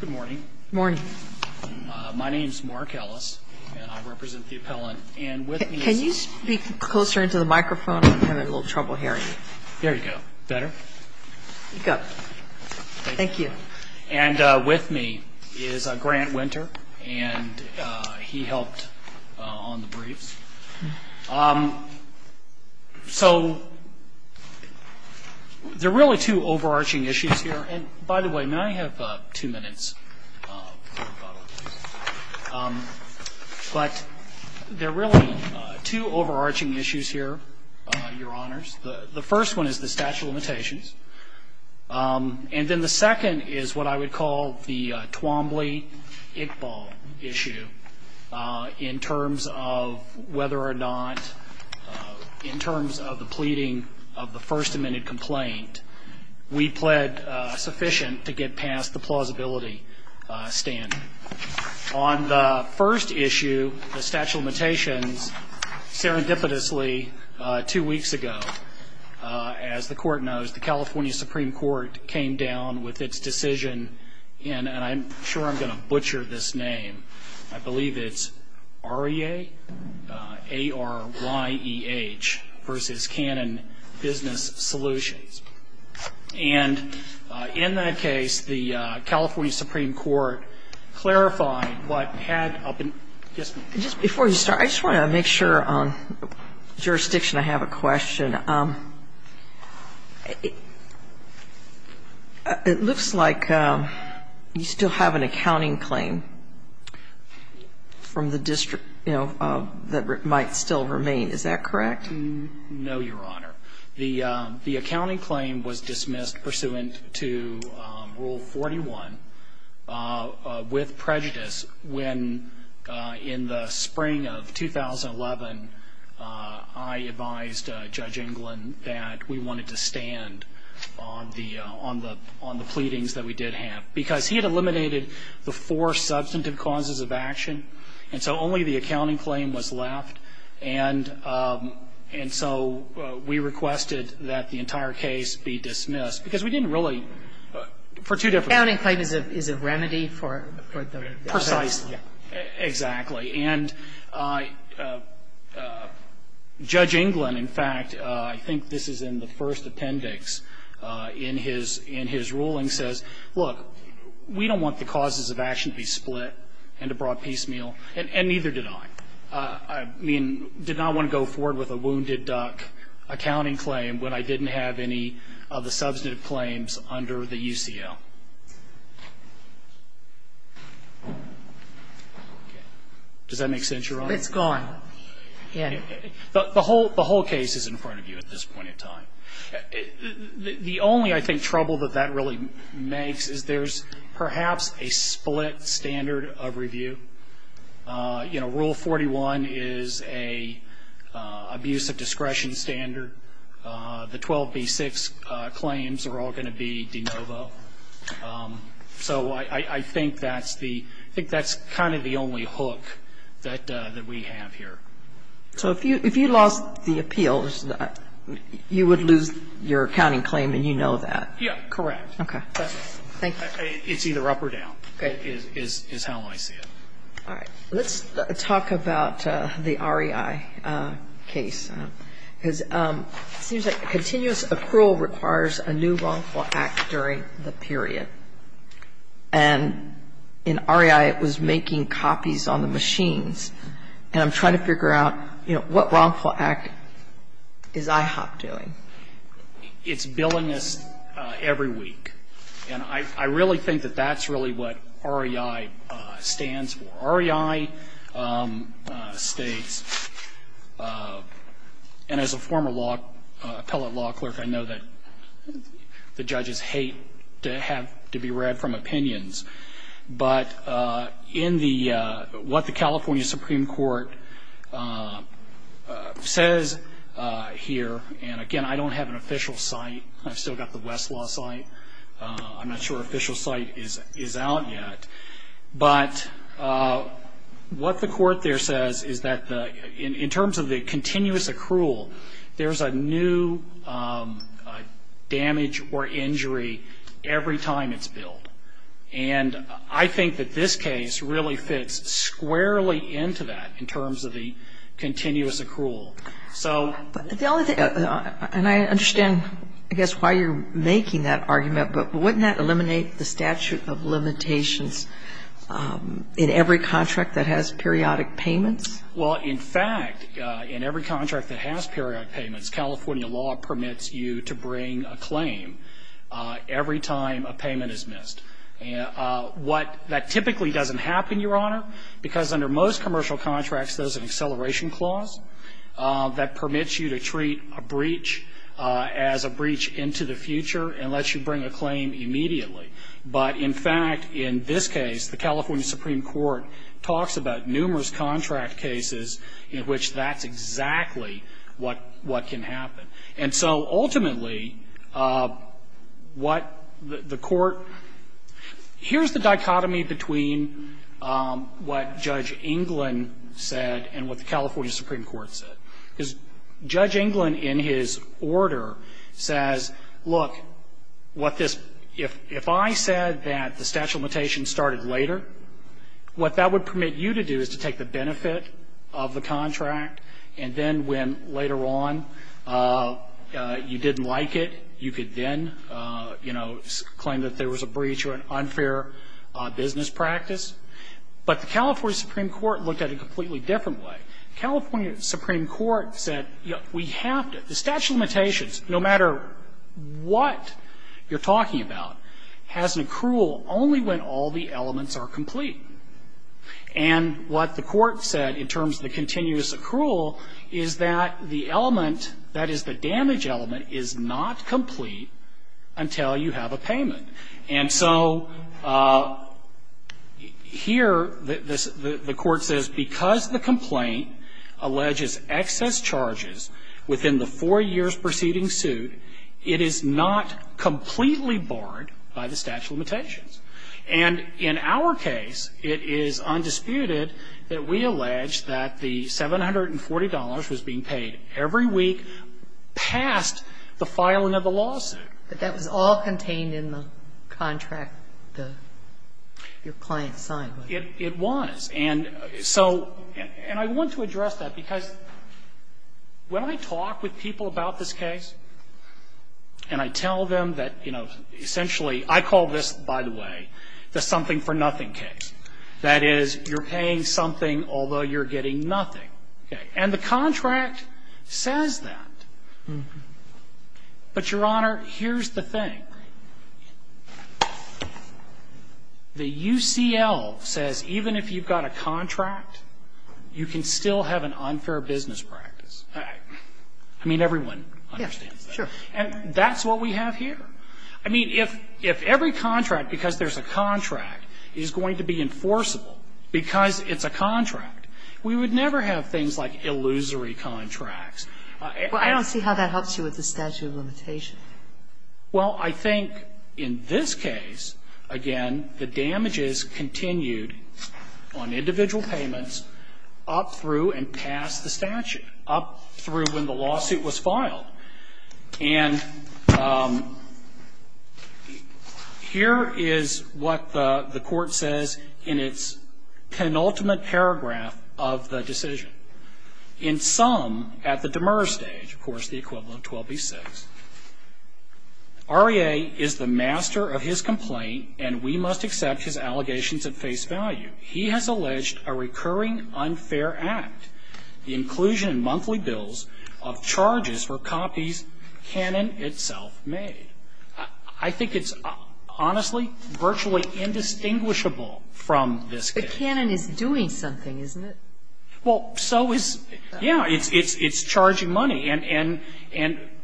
Good morning. My name is Mark Ellis and I represent the appellant. And with me is... Can you speak closer into the microphone? I'm having a little trouble hearing you. There you go. Better? There you go. Thank you. And with me is Grant Winter and he helped on the briefs. So there are really two overarching issues here. And by the way, may I have two minutes for a couple of things? But there are really two overarching issues here, Your Honors. The first one is the statute of limitations. And then the second is what I would call the Twombly-Iqbal issue in terms of whether or not, in terms of the pleading of the First Amendment complaint, we pled sufficient to get past the plausibility standard. On the first issue, the statute of limitations, serendipitously two weeks ago, as the Court knows, the California Supreme Court came down with its decision and I'm sure I'm going to butcher this name. I believe it's ARYEH versus Cannon Business Solutions. And in that case, the California Supreme Court clarified what had... Just before you start, I just want to make sure on jurisdiction I have a question. It looks like you still have an accounting claim from the district, you know, that might still remain. Is that correct? No, Your Honor. The accounting claim was dismissed pursuant to Rule 41 with prejudice when, in the spring of 2011, I advised Judge England that we wanted to stand on the pleadings that we did have. Because he had eliminated the four substantive causes of action, and so only the accounting claim was left, and so we requested that the entire case be dismissed, because we didn't really, for two different reasons. Accounting claim is a remedy for the... Precisely. Exactly. And Judge England, in fact, I think this is in the first appendix in his ruling, says, look, we don't want the causes of action to be split and to brought piecemeal, and neither did I. I mean, did not want to go forward with a wounded duck accounting claim when I didn't have any of the substantive claims under the UCL. Does that make sense, Your Honor? It's gone. The whole case is in front of you at this point in time. The only, I think, trouble that that really makes is there's perhaps a split standard of review. You know, Rule 41 is an abuse of discretion standard. The 12b-6 claims are all going to be de novo. So I think that's the, I think that's kind of the only hook that we have here. So if you lost the appeals, you would lose your accounting claim and you know that. Yeah, correct. Okay. Thank you. It's either up or down is how I see it. All right. Let's talk about the REI case, because it seems like continuous accrual requires a new wrongful act during the period. And in REI, it was making copies on the machines. And I'm trying to figure out, you know, what wrongful act is IHOP doing? It's billing us every week. And I really think that that's really what REI stands for. REI states, and as a former law, appellate law clerk, I know that the judges hate to have to be read from opinions. But in the, what the California Supreme Court says here, and again I don't have an official site. I've still got the Westlaw site. I'm not sure official site is out yet. But what the court there says is that in terms of the continuous accrual, there's a new damage or injury every time it's billed. And I think that this case really fits squarely into that in terms of the continuous accrual. So the only thing, and I understand, I guess, why you're making that argument, but wouldn't that eliminate the statute of limitations in every contract that has periodic payments? Well, in fact, in every contract that has periodic payments, California law permits you to bring a claim every time a payment is missed. What, that typically doesn't happen, Your Honor, because under most commercial contracts there's an acceleration clause that permits you to treat a breach as a breach into the future and lets you bring a claim immediately. But in fact, in this case, the California Supreme Court talks about numerous contract cases in which that's exactly what can happen. And so ultimately, what the court, here's the dichotomy between what Judge Englund said and what the California Supreme Court said. Because Judge Englund in his order says, look, what this, if I said that the statute of limitations started later, what that would permit you to do is to take the benefit of the contract, and then when later on you didn't like it, you could then, you know, claim that there was a breach or an unfair business practice. But the California Supreme Court looked at it a completely different way. The California Supreme Court said, you know, we have to, the statute of limitations, no matter what you're talking about, has an accrual only when all the elements are complete. And what the court said in terms of the continuous accrual is that the element, that is, the damage element, is not complete until you have a payment. And so here the court says, because the complaint alleges excess charges within the four years preceding suit, it is not completely barred by the statute of limitations. And in our case, it is undisputed that we allege that the $740 was being paid every week past the filing of the lawsuit. But that was all contained in the contract, the, your client signed. It was. And so, and I want to address that, because when I talk with people about this case and I tell them that, you know, essentially, I call this, by the way, the something for nothing case, that is, you're paying something, although you're getting nothing. And the contract says that. But, Your Honor, here's the thing. The UCL says even if you've got a contract, you can still have an unfair business practice. I mean, everyone understands that. And that's what we have here. I mean, if every contract, because there's a contract, is going to be enforceable because it's a contract, we would never have things like illusory contracts. Well, I don't see how that helps you with the statute of limitations. Well, I think in this case, again, the damages continued on individual payments up through and past the statute, up through when the lawsuit was filed. And here is what the Court says in its penultimate paragraph of the decision. In sum, at the demur stage, of course, the equivalent of 12b-6, REA is the master of his complaint and we must accept his allegations at face value. He has alleged a recurring unfair act, the inclusion in monthly bills of charges for copies Cannon itself made. I think it's honestly virtually indistinguishable from this case. But Cannon is doing something, isn't it? Well, so is, yeah, it's charging money. And,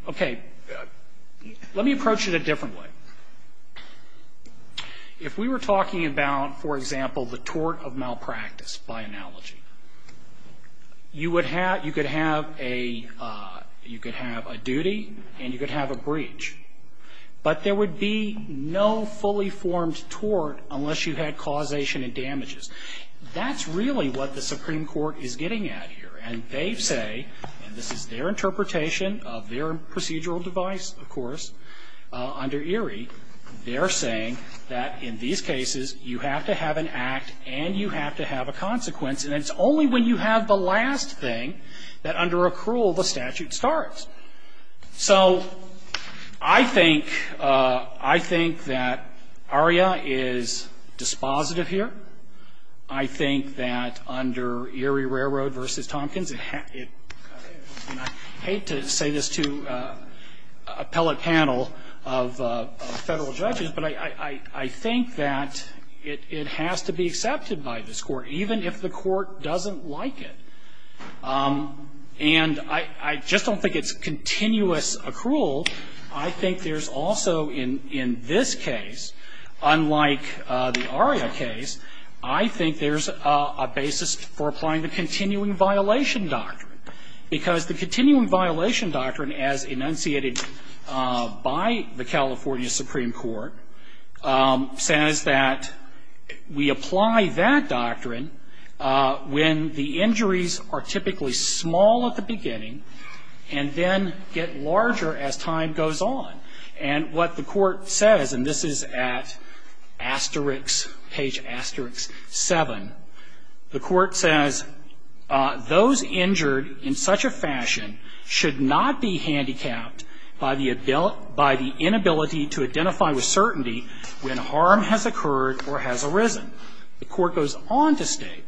okay, let me approach it a different way. If we were talking about, for example, the tort of malpractice, by analogy, you could have a duty and you could have a breach. But there would be no fully formed tort unless you had causation and damages. That's really what the Supreme Court is getting at here. And they say, and this is their interpretation of their procedural device, of course, under ERIE, they're saying that in these cases you have to have an act and you have to have a consequence. And it's only when you have the last thing that under accrual the statute starts. So I think that ARIA is dispositive here. I think that under ERIE Railroad v. Tompkins, and I hate to say this to appellate panel of Federal judges, but I think that it has to be accepted by this Court, even if the Court doesn't like it. And I just don't think it's continuous accrual. I think there's also in this case, unlike the ARIA case, I think there's a basis for applying the continuing violation doctrine, because the continuing violation doctrine as enunciated by the California Supreme Court says that we apply that and then get larger as time goes on. And what the Court says, and this is at asterisk, page asterisk 7, the Court says, those injured in such a fashion should not be handicapped by the inability to identify with certainty when harm has occurred or has arisen. The Court goes on to state,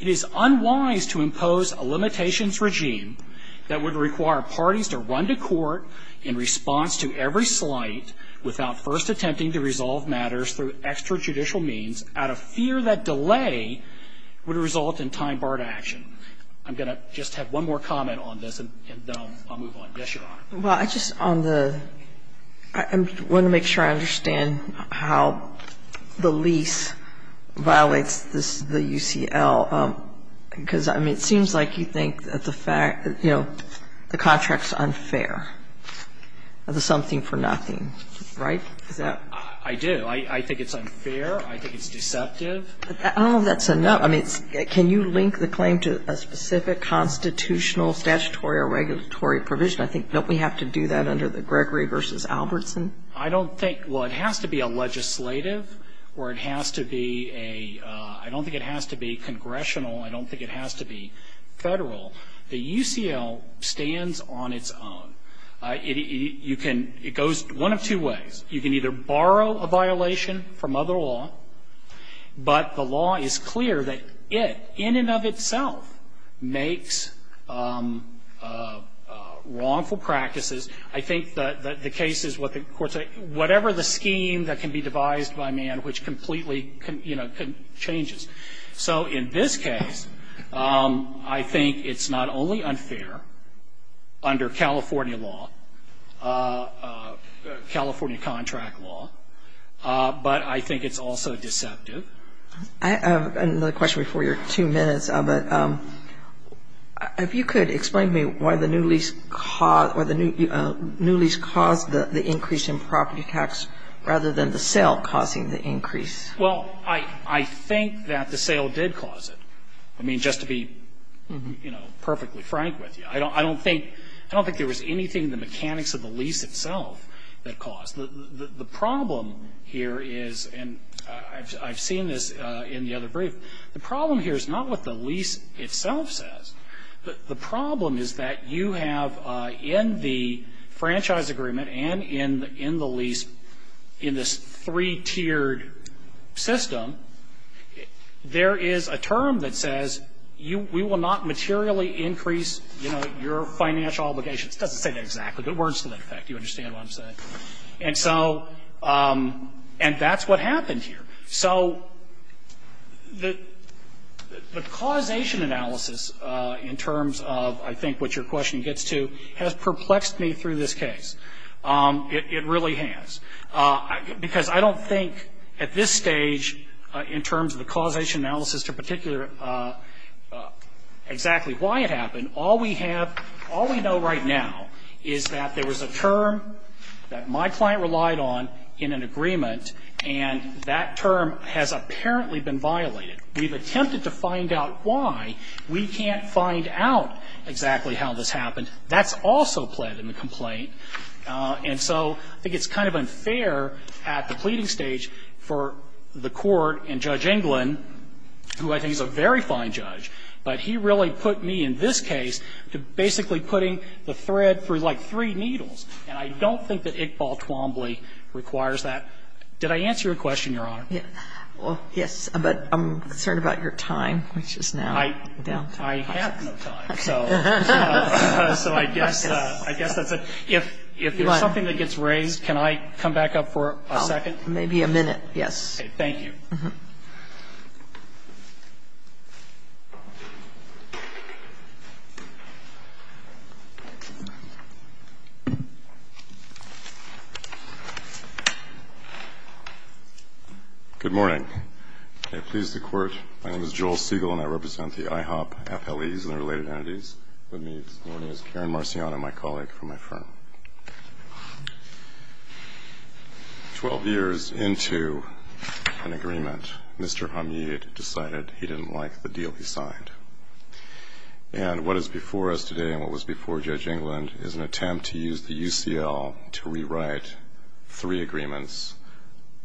it is unwise to impose a limitations regime that would require parties to run to court in response to every slight without first attempting to resolve matters through extrajudicial means out of fear that delay would result in time barred action. I'm going to just have one more comment on this and then I'll move on. Yes, Your Honor. Well, I just on the, I want to make sure I understand how the lease violates the UCL, because, I mean, it seems like you think that the fact, you know, the contract is unfair, the something for nothing, right? Is that? I do. I think it's unfair. I think it's deceptive. I don't know if that's enough. I mean, can you link the claim to a specific constitutional statutory or regulatory provision? I think don't we have to do that under the Gregory v. Albertson? I don't think. Well, it has to be a legislative or it has to be a, I don't think it has to be congressional. I don't think it has to be Federal. The UCL stands on its own. You can, it goes one of two ways. You can either borrow a violation from other law, but the law is clear that it in and of itself makes wrongful practices. I think the case is what the courts say, whatever the scheme that can be devised by man which completely, you know, changes. So in this case, I think it's not only unfair under California law, California contract law, but I think it's also deceptive. I have another question before your two minutes. If you could explain to me why the new lease caused, why the new lease caused the increase in property tax rather than the sale causing the increase. Well, I think that the sale did cause it. I mean, just to be, you know, perfectly frank with you. I don't think, I don't think there was anything in the mechanics of the lease itself that caused it. The problem here is, and I've seen this in the other brief, the problem here is not what the lease itself says. The problem is that you have in the franchise agreement and in the lease, in this three-tiered system, there is a term that says we will not materially increase, you know, your financial obligations. It doesn't say that exactly, but it works to that effect. You understand what I'm saying? And so, and that's what happened here. So the causation analysis in terms of, I think, what your question gets to, has perplexed me through this case. It really has. Because I don't think at this stage in terms of the causation analysis to particular exactly why it happened, all we have, all we know right now is that there was a term that my client relied on in an agreement, and that term has apparently been violated. We've attempted to find out why. We can't find out exactly how this happened. That's also pled in the complaint. And so I think it's kind of unfair at the pleading stage for the Court and Judge Englund, who I think is a very fine judge, but he really put me in this case to basically putting the thread through, like, three needles. And I don't think that Iqbal Twombly requires that. Did I answer your question, Your Honor? Yes. But I'm concerned about your time, which is now down. I have no time. So I guess that's it. If there's something that gets raised, can I come back up for a second? Maybe a minute. Yes. Thank you. Good morning. I please the Court. My name is Joel Siegel, and I represent the IHOP FLEs and their related entities. With me this morning is Karen Marciano, my colleague from my firm. Twelve years into an agreement, Mr. Hamid decided he didn't like the deal he signed. And what is before us today and what was before Judge Englund is an attempt to use the UCL to rewrite three agreements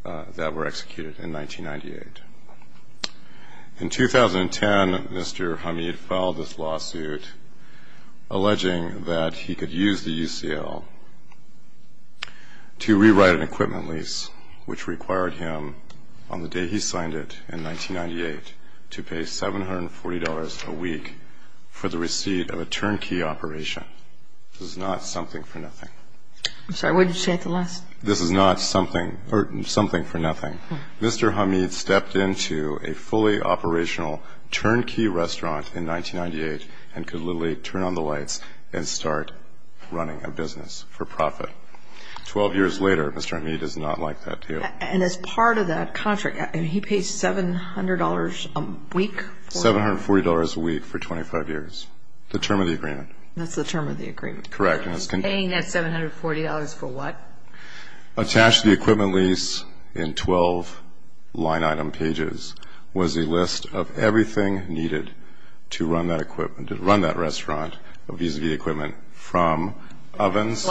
that were executed in 1998. In 2010, Mr. Hamid filed this lawsuit alleging that he could use the UCL to rewrite an equipment lease, which required him, on the day he signed it in 1998, to pay $740 a week for the receipt of a turnkey operation. This is not something for nothing. I'm sorry, what did you say at the last? This is not something for nothing. Mr. Hamid stepped into a fully operational turnkey restaurant in 1998 and could literally turn on the lights and start running a business for profit. Twelve years later, Mr. Hamid does not like that deal. And as part of that contract, he pays $700 a week? $740 a week for 25 years, the term of the agreement. That's the term of the agreement. Correct. Paying that $740 for what? Attached to the equipment lease in 12 line-item pages was a list of everything needed to run that equipment, to run that restaurant, vis-à-vis equipment, from ovens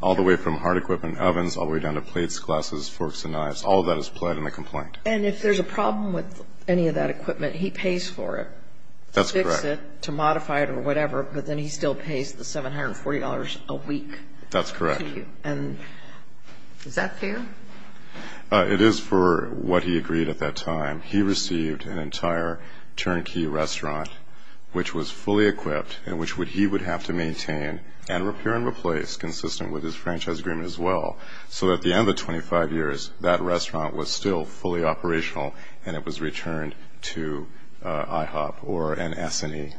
all the way from hard equipment ovens all the way down to plates, glasses, forks and knives. All of that is applied in the complaint. And if there's a problem with any of that equipment, he pays for it? That's correct. To fix it, to modify it or whatever, but then he still pays the $740 a week? That's correct. And is that fair? It is for what he agreed at that time. He received an entire turnkey restaurant, which was fully equipped and which he would have to maintain and repair and replace consistent with his franchise agreement as well. So at the end of the 25 years, that restaurant was still fully operational and it was returned to IHOP or an S&E.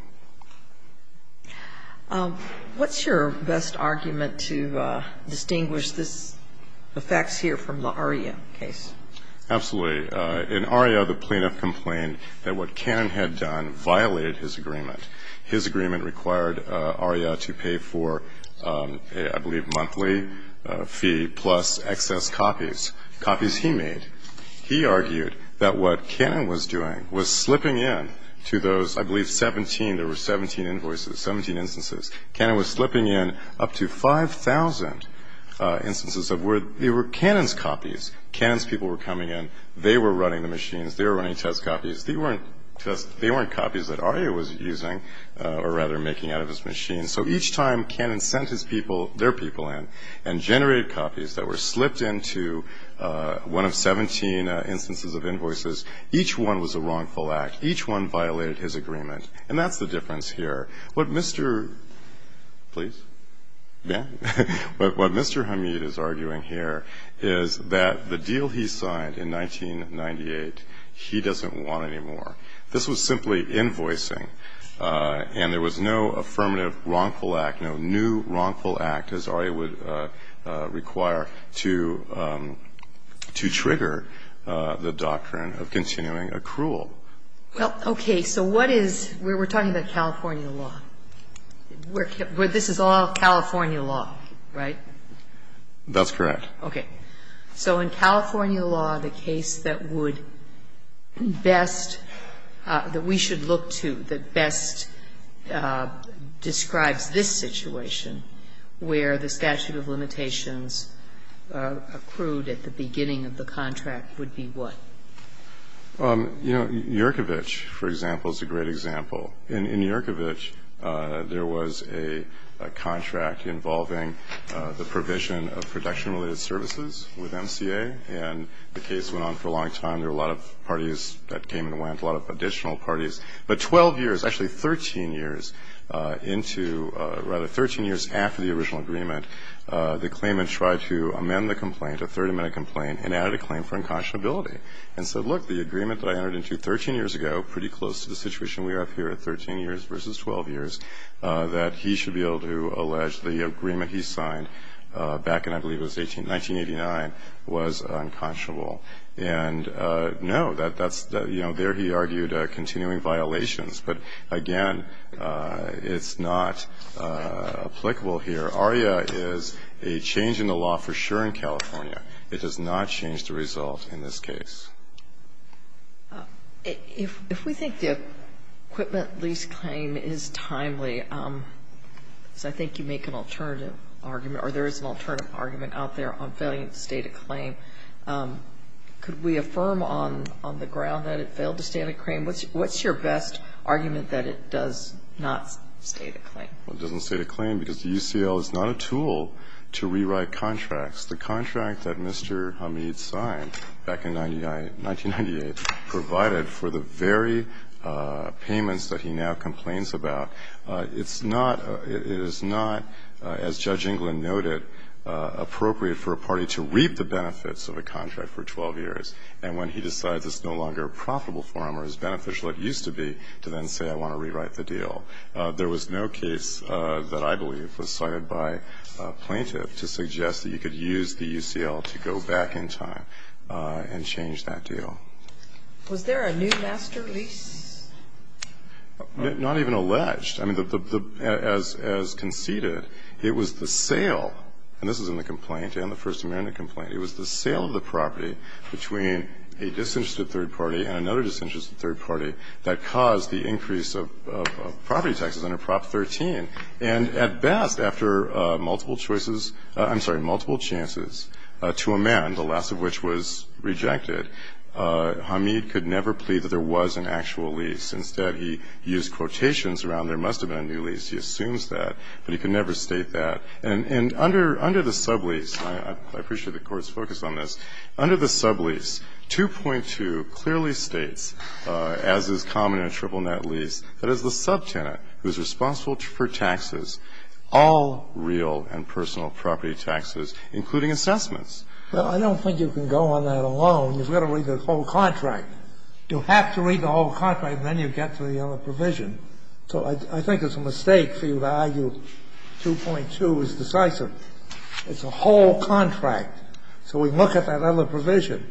What's your best argument to distinguish the facts here from the Aria case? Absolutely. In Aria, the plaintiff complained that what Cannon had done violated his agreement. His agreement required Aria to pay for, I believe, monthly fee plus excess copies, copies he made. He argued that what Cannon was doing was slipping in to those, I believe, 17, there were 17 invoices, 17 instances. Cannon was slipping in up to 5,000 instances of where there were Cannon's copies. Cannon's people were coming in. They were running the machines. They were running test copies. They weren't copies that Aria was using or rather making out of his machine. So each time Cannon sent his people, their people in, and generated copies that were slipped into one of 17 instances of invoices, each one was a wrongful act. Each one violated his agreement, and that's the difference here. What Mr. Hamid is arguing here is that the deal he signed in 1998, he doesn't want anymore. This was simply invoicing, and there was no affirmative wrongful act, no new wrongful act, as Aria would require, to trigger the doctrine of continuing accrual. Well, okay. So what is we're talking about California law, where this is all California law, right? That's correct. Okay. So in California law, the case that would best, that we should look to, that best describes this situation, where the statute of limitations accrued at the beginning of the contract would be what? You know, Yurkovich, for example, is a great example. In Yurkovich, there was a contract involving the provision of production-related services with MCA, and the case went on for a long time. There were a lot of parties that came and went, a lot of additional parties. But 12 years, actually 13 years into, rather, 13 years after the original agreement, the claimant tried to amend the complaint, a third amendment complaint, and added a claim for unconscionability, and said, look, the agreement that I entered into 13 years ago, pretty close to the situation we are up here at, 13 years versus 12 years, that he should be able to allege the agreement he signed back in, I believe, it was 1989, was unconscionable. And, no, that's, you know, there he argued continuing violations. But, again, it's not applicable here. ARIA is a change in the law for sure in California. It does not change the result in this case. If we think the equipment lease claim is timely, because I think you make an alternative argument out there on failing to state a claim, could we affirm on the ground that it failed to state a claim? What's your best argument that it does not state a claim? Well, it doesn't state a claim because the UCL is not a tool to rewrite contracts. The contract that Mr. Hamid signed back in 1998 provided for the very payments that he now complains about. It is not, as Judge England noted, appropriate for a party to reap the benefits of a contract for 12 years, and when he decides it's no longer profitable for him or as beneficial it used to be, to then say, I want to rewrite the deal. There was no case that I believe was cited by a plaintiff to suggest that you could use the UCL to go back in time and change that deal. Was there a new master lease? Not even alleged. I mean, as conceded, it was the sale, and this is in the complaint and the First Amendment complaint, it was the sale of the property between a disinterested third party and another disinterested third party that caused the increase of property taxes under Prop 13, and at best, after multiple choices, I'm sorry, multiple chances to amend, the last of which was rejected, Hamid could never plead that there was an actual lease. Instead, he used quotations around there must have been a new lease. He assumes that, but he could never state that. And under the sublease, I appreciate the Court's focus on this, under the sublease, 2.2 clearly states, as is common in a triple net lease, that it's the subtenant who's responsible for taxes, all real and personal property taxes, including assessments. Well, I don't think you can go on that alone. You've got to read the whole contract. You have to read the whole contract, and then you get to the other provision. So I think it's a mistake for you to argue 2.2 is decisive. It's a whole contract. So we look at that other provision,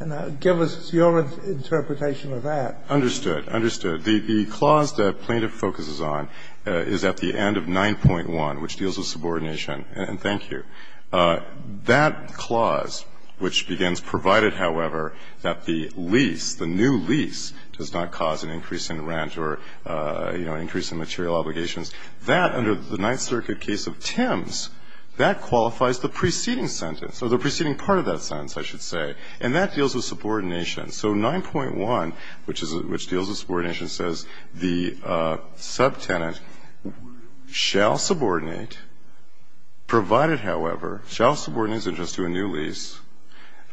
and give us your interpretation of that. Understood. Understood. The clause the plaintiff focuses on is at the end of 9.1, which deals with subordination, and thank you. That clause, which begins, provided, however, that the lease, the new lease does not cause an increase in rent or, you know, an increase in material obligations, that under the Ninth Circuit case of Timms, that qualifies the preceding sentence or the preceding part of that sentence, I should say. And that deals with subordination. So 9.1, which deals with subordination, says the subtenant shall subordinate, provided, however, shall subordinate his interest to a new lease,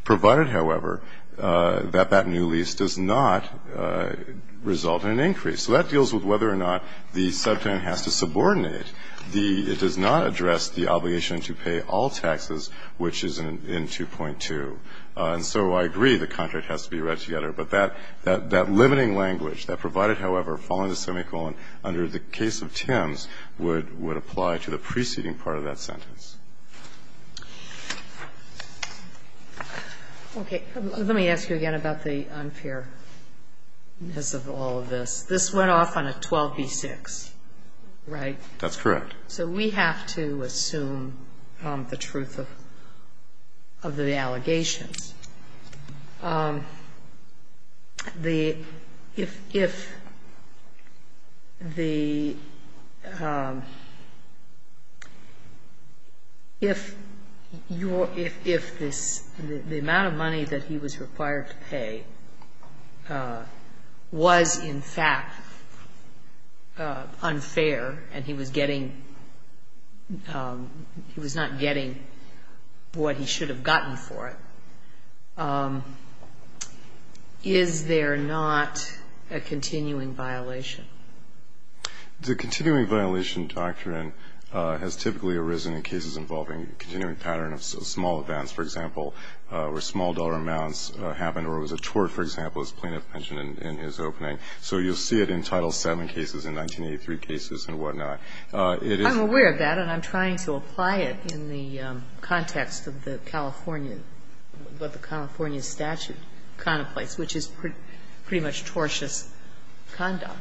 provided, however, that that new lease does not result in an increase. So that deals with whether or not the subtenant has to subordinate. It does not address the obligation to pay all taxes, which is in 2.2. And so I agree the contract has to be read together, but that limiting language that provided, however, following the semicolon under the case of Timms would apply to the preceding part of that sentence. Okay. Let me ask you again about the unfairness of all of this. This went off on a 12b-6, right? That's correct. So we have to assume the truth of the allegations. If the amount of money that he was required to pay was, in fact, unfair and he was not getting what he should have gotten for it, is there not a continuing violation? The continuing violation doctrine has typically arisen in cases involving continuing pattern of small advance, for example, where small dollar amounts happened or it was a tort, for example, as plaintiff mentioned in his opening. So you'll see it in Title VII cases and 1983 cases and whatnot. It is. I'm aware of that, and I'm trying to apply it in the context of the California statute contemplates, which is pretty much tortious conduct.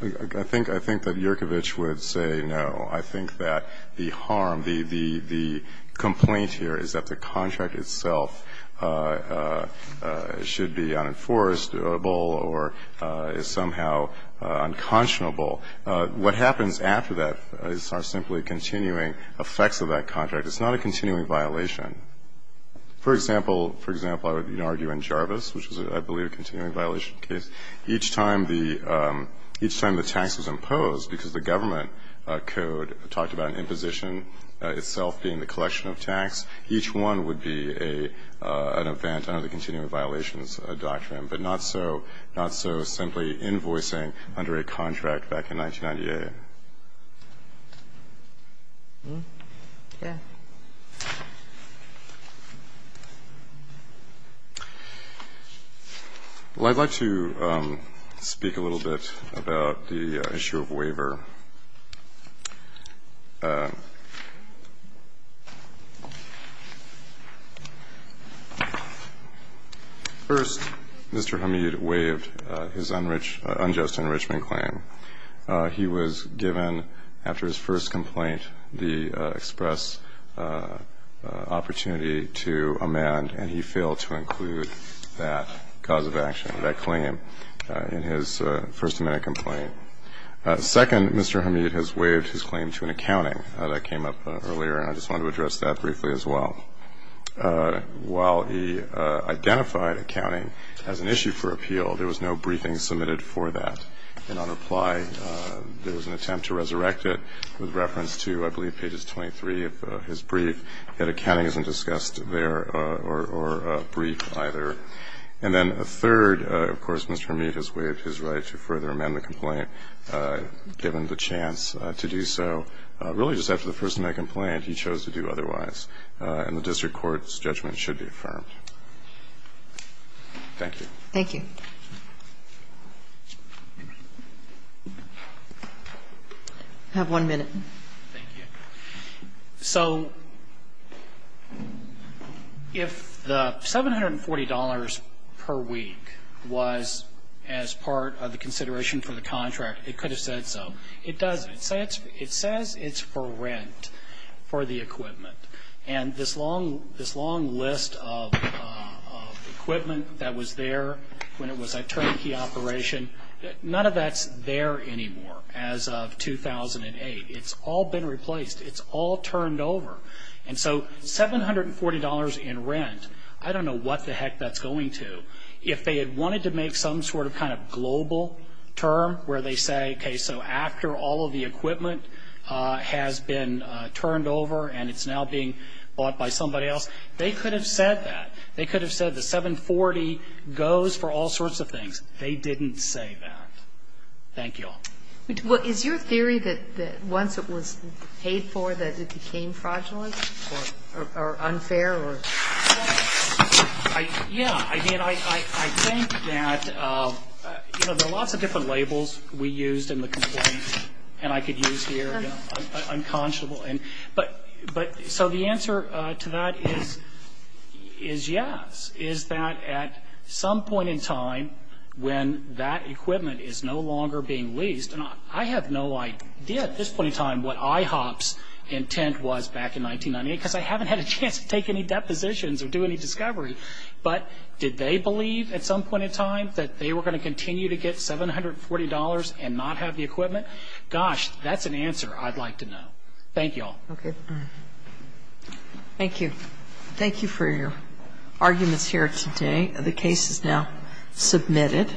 I think that Yurkovich would say no. I think that the harm, the complaint here is that the contract itself should be unenforceable or is somehow unconscionable. What happens after that are simply continuing effects of that contract. It's not a continuing violation. For example, I would argue in Jarvis, which is, I believe, a continuing violation case, each time the tax was imposed, because the government code talked about an imposition itself being the collection of tax, each one would be an event under the continuing effect of that contract. And I think that's what happened back in 1998. Yeah. Well, I'd like to speak a little bit about the issue of waiver. First, Mr. Hamid waived his unjust enrichment claim. He was given, after his first complaint, the express opportunity to amend, and he failed to include that cause of action, that claim in his first amended complaint. Second, Mr. Hamid has waived his claim to an accounting that came up earlier, and I just wanted to address that briefly as well. While he identified accounting as an issue for appeal, there was no briefing submitted for that. And on reply, there was an attempt to resurrect it with reference to, I believe, pages 23 of his brief. Yet accounting isn't discussed there or briefed either. And then third, of course, Mr. Hamid has waived his right to further amend the complaint given the chance to do so. Really, just after the first night complaint, he chose to do otherwise. And the district court's judgment should be affirmed. Thank you. Thank you. I have one minute. Thank you. So, if the $740 per week was as part of the consideration for the contract, it could have said so. It doesn't. It says it's for rent for the equipment. And this long list of equipment that was there when it was a turnkey operation, none of that's there anymore as of 2008. It's all been replaced. It's all turned over. And so $740 in rent, I don't know what the heck that's going to. If they had wanted to make some sort of kind of global term where they say, okay, so after all of the equipment has been turned over and it's now being bought by somebody else, they could have said that. They could have said the 740 goes for all sorts of things. They didn't say that. Thank you all. Is your theory that once it was paid for that it became fraudulent or unfair? Yeah. I mean, I think that there are lots of different labels we used in the complaint, and I could use here unconscionable. So the answer to that is yes, is that at some point in time when that equipment is no longer being leased, and I have no idea at this point in time what IHOP's intent was back in 1998, because I haven't had a chance to take any depositions or do any discovery. But did they believe at some point in time that they were going to continue to get $740 and not have the equipment? Gosh, that's an answer I'd like to know. Thank you all. Okay. Thank you. Thank you for your arguments here today. The case is now submitted.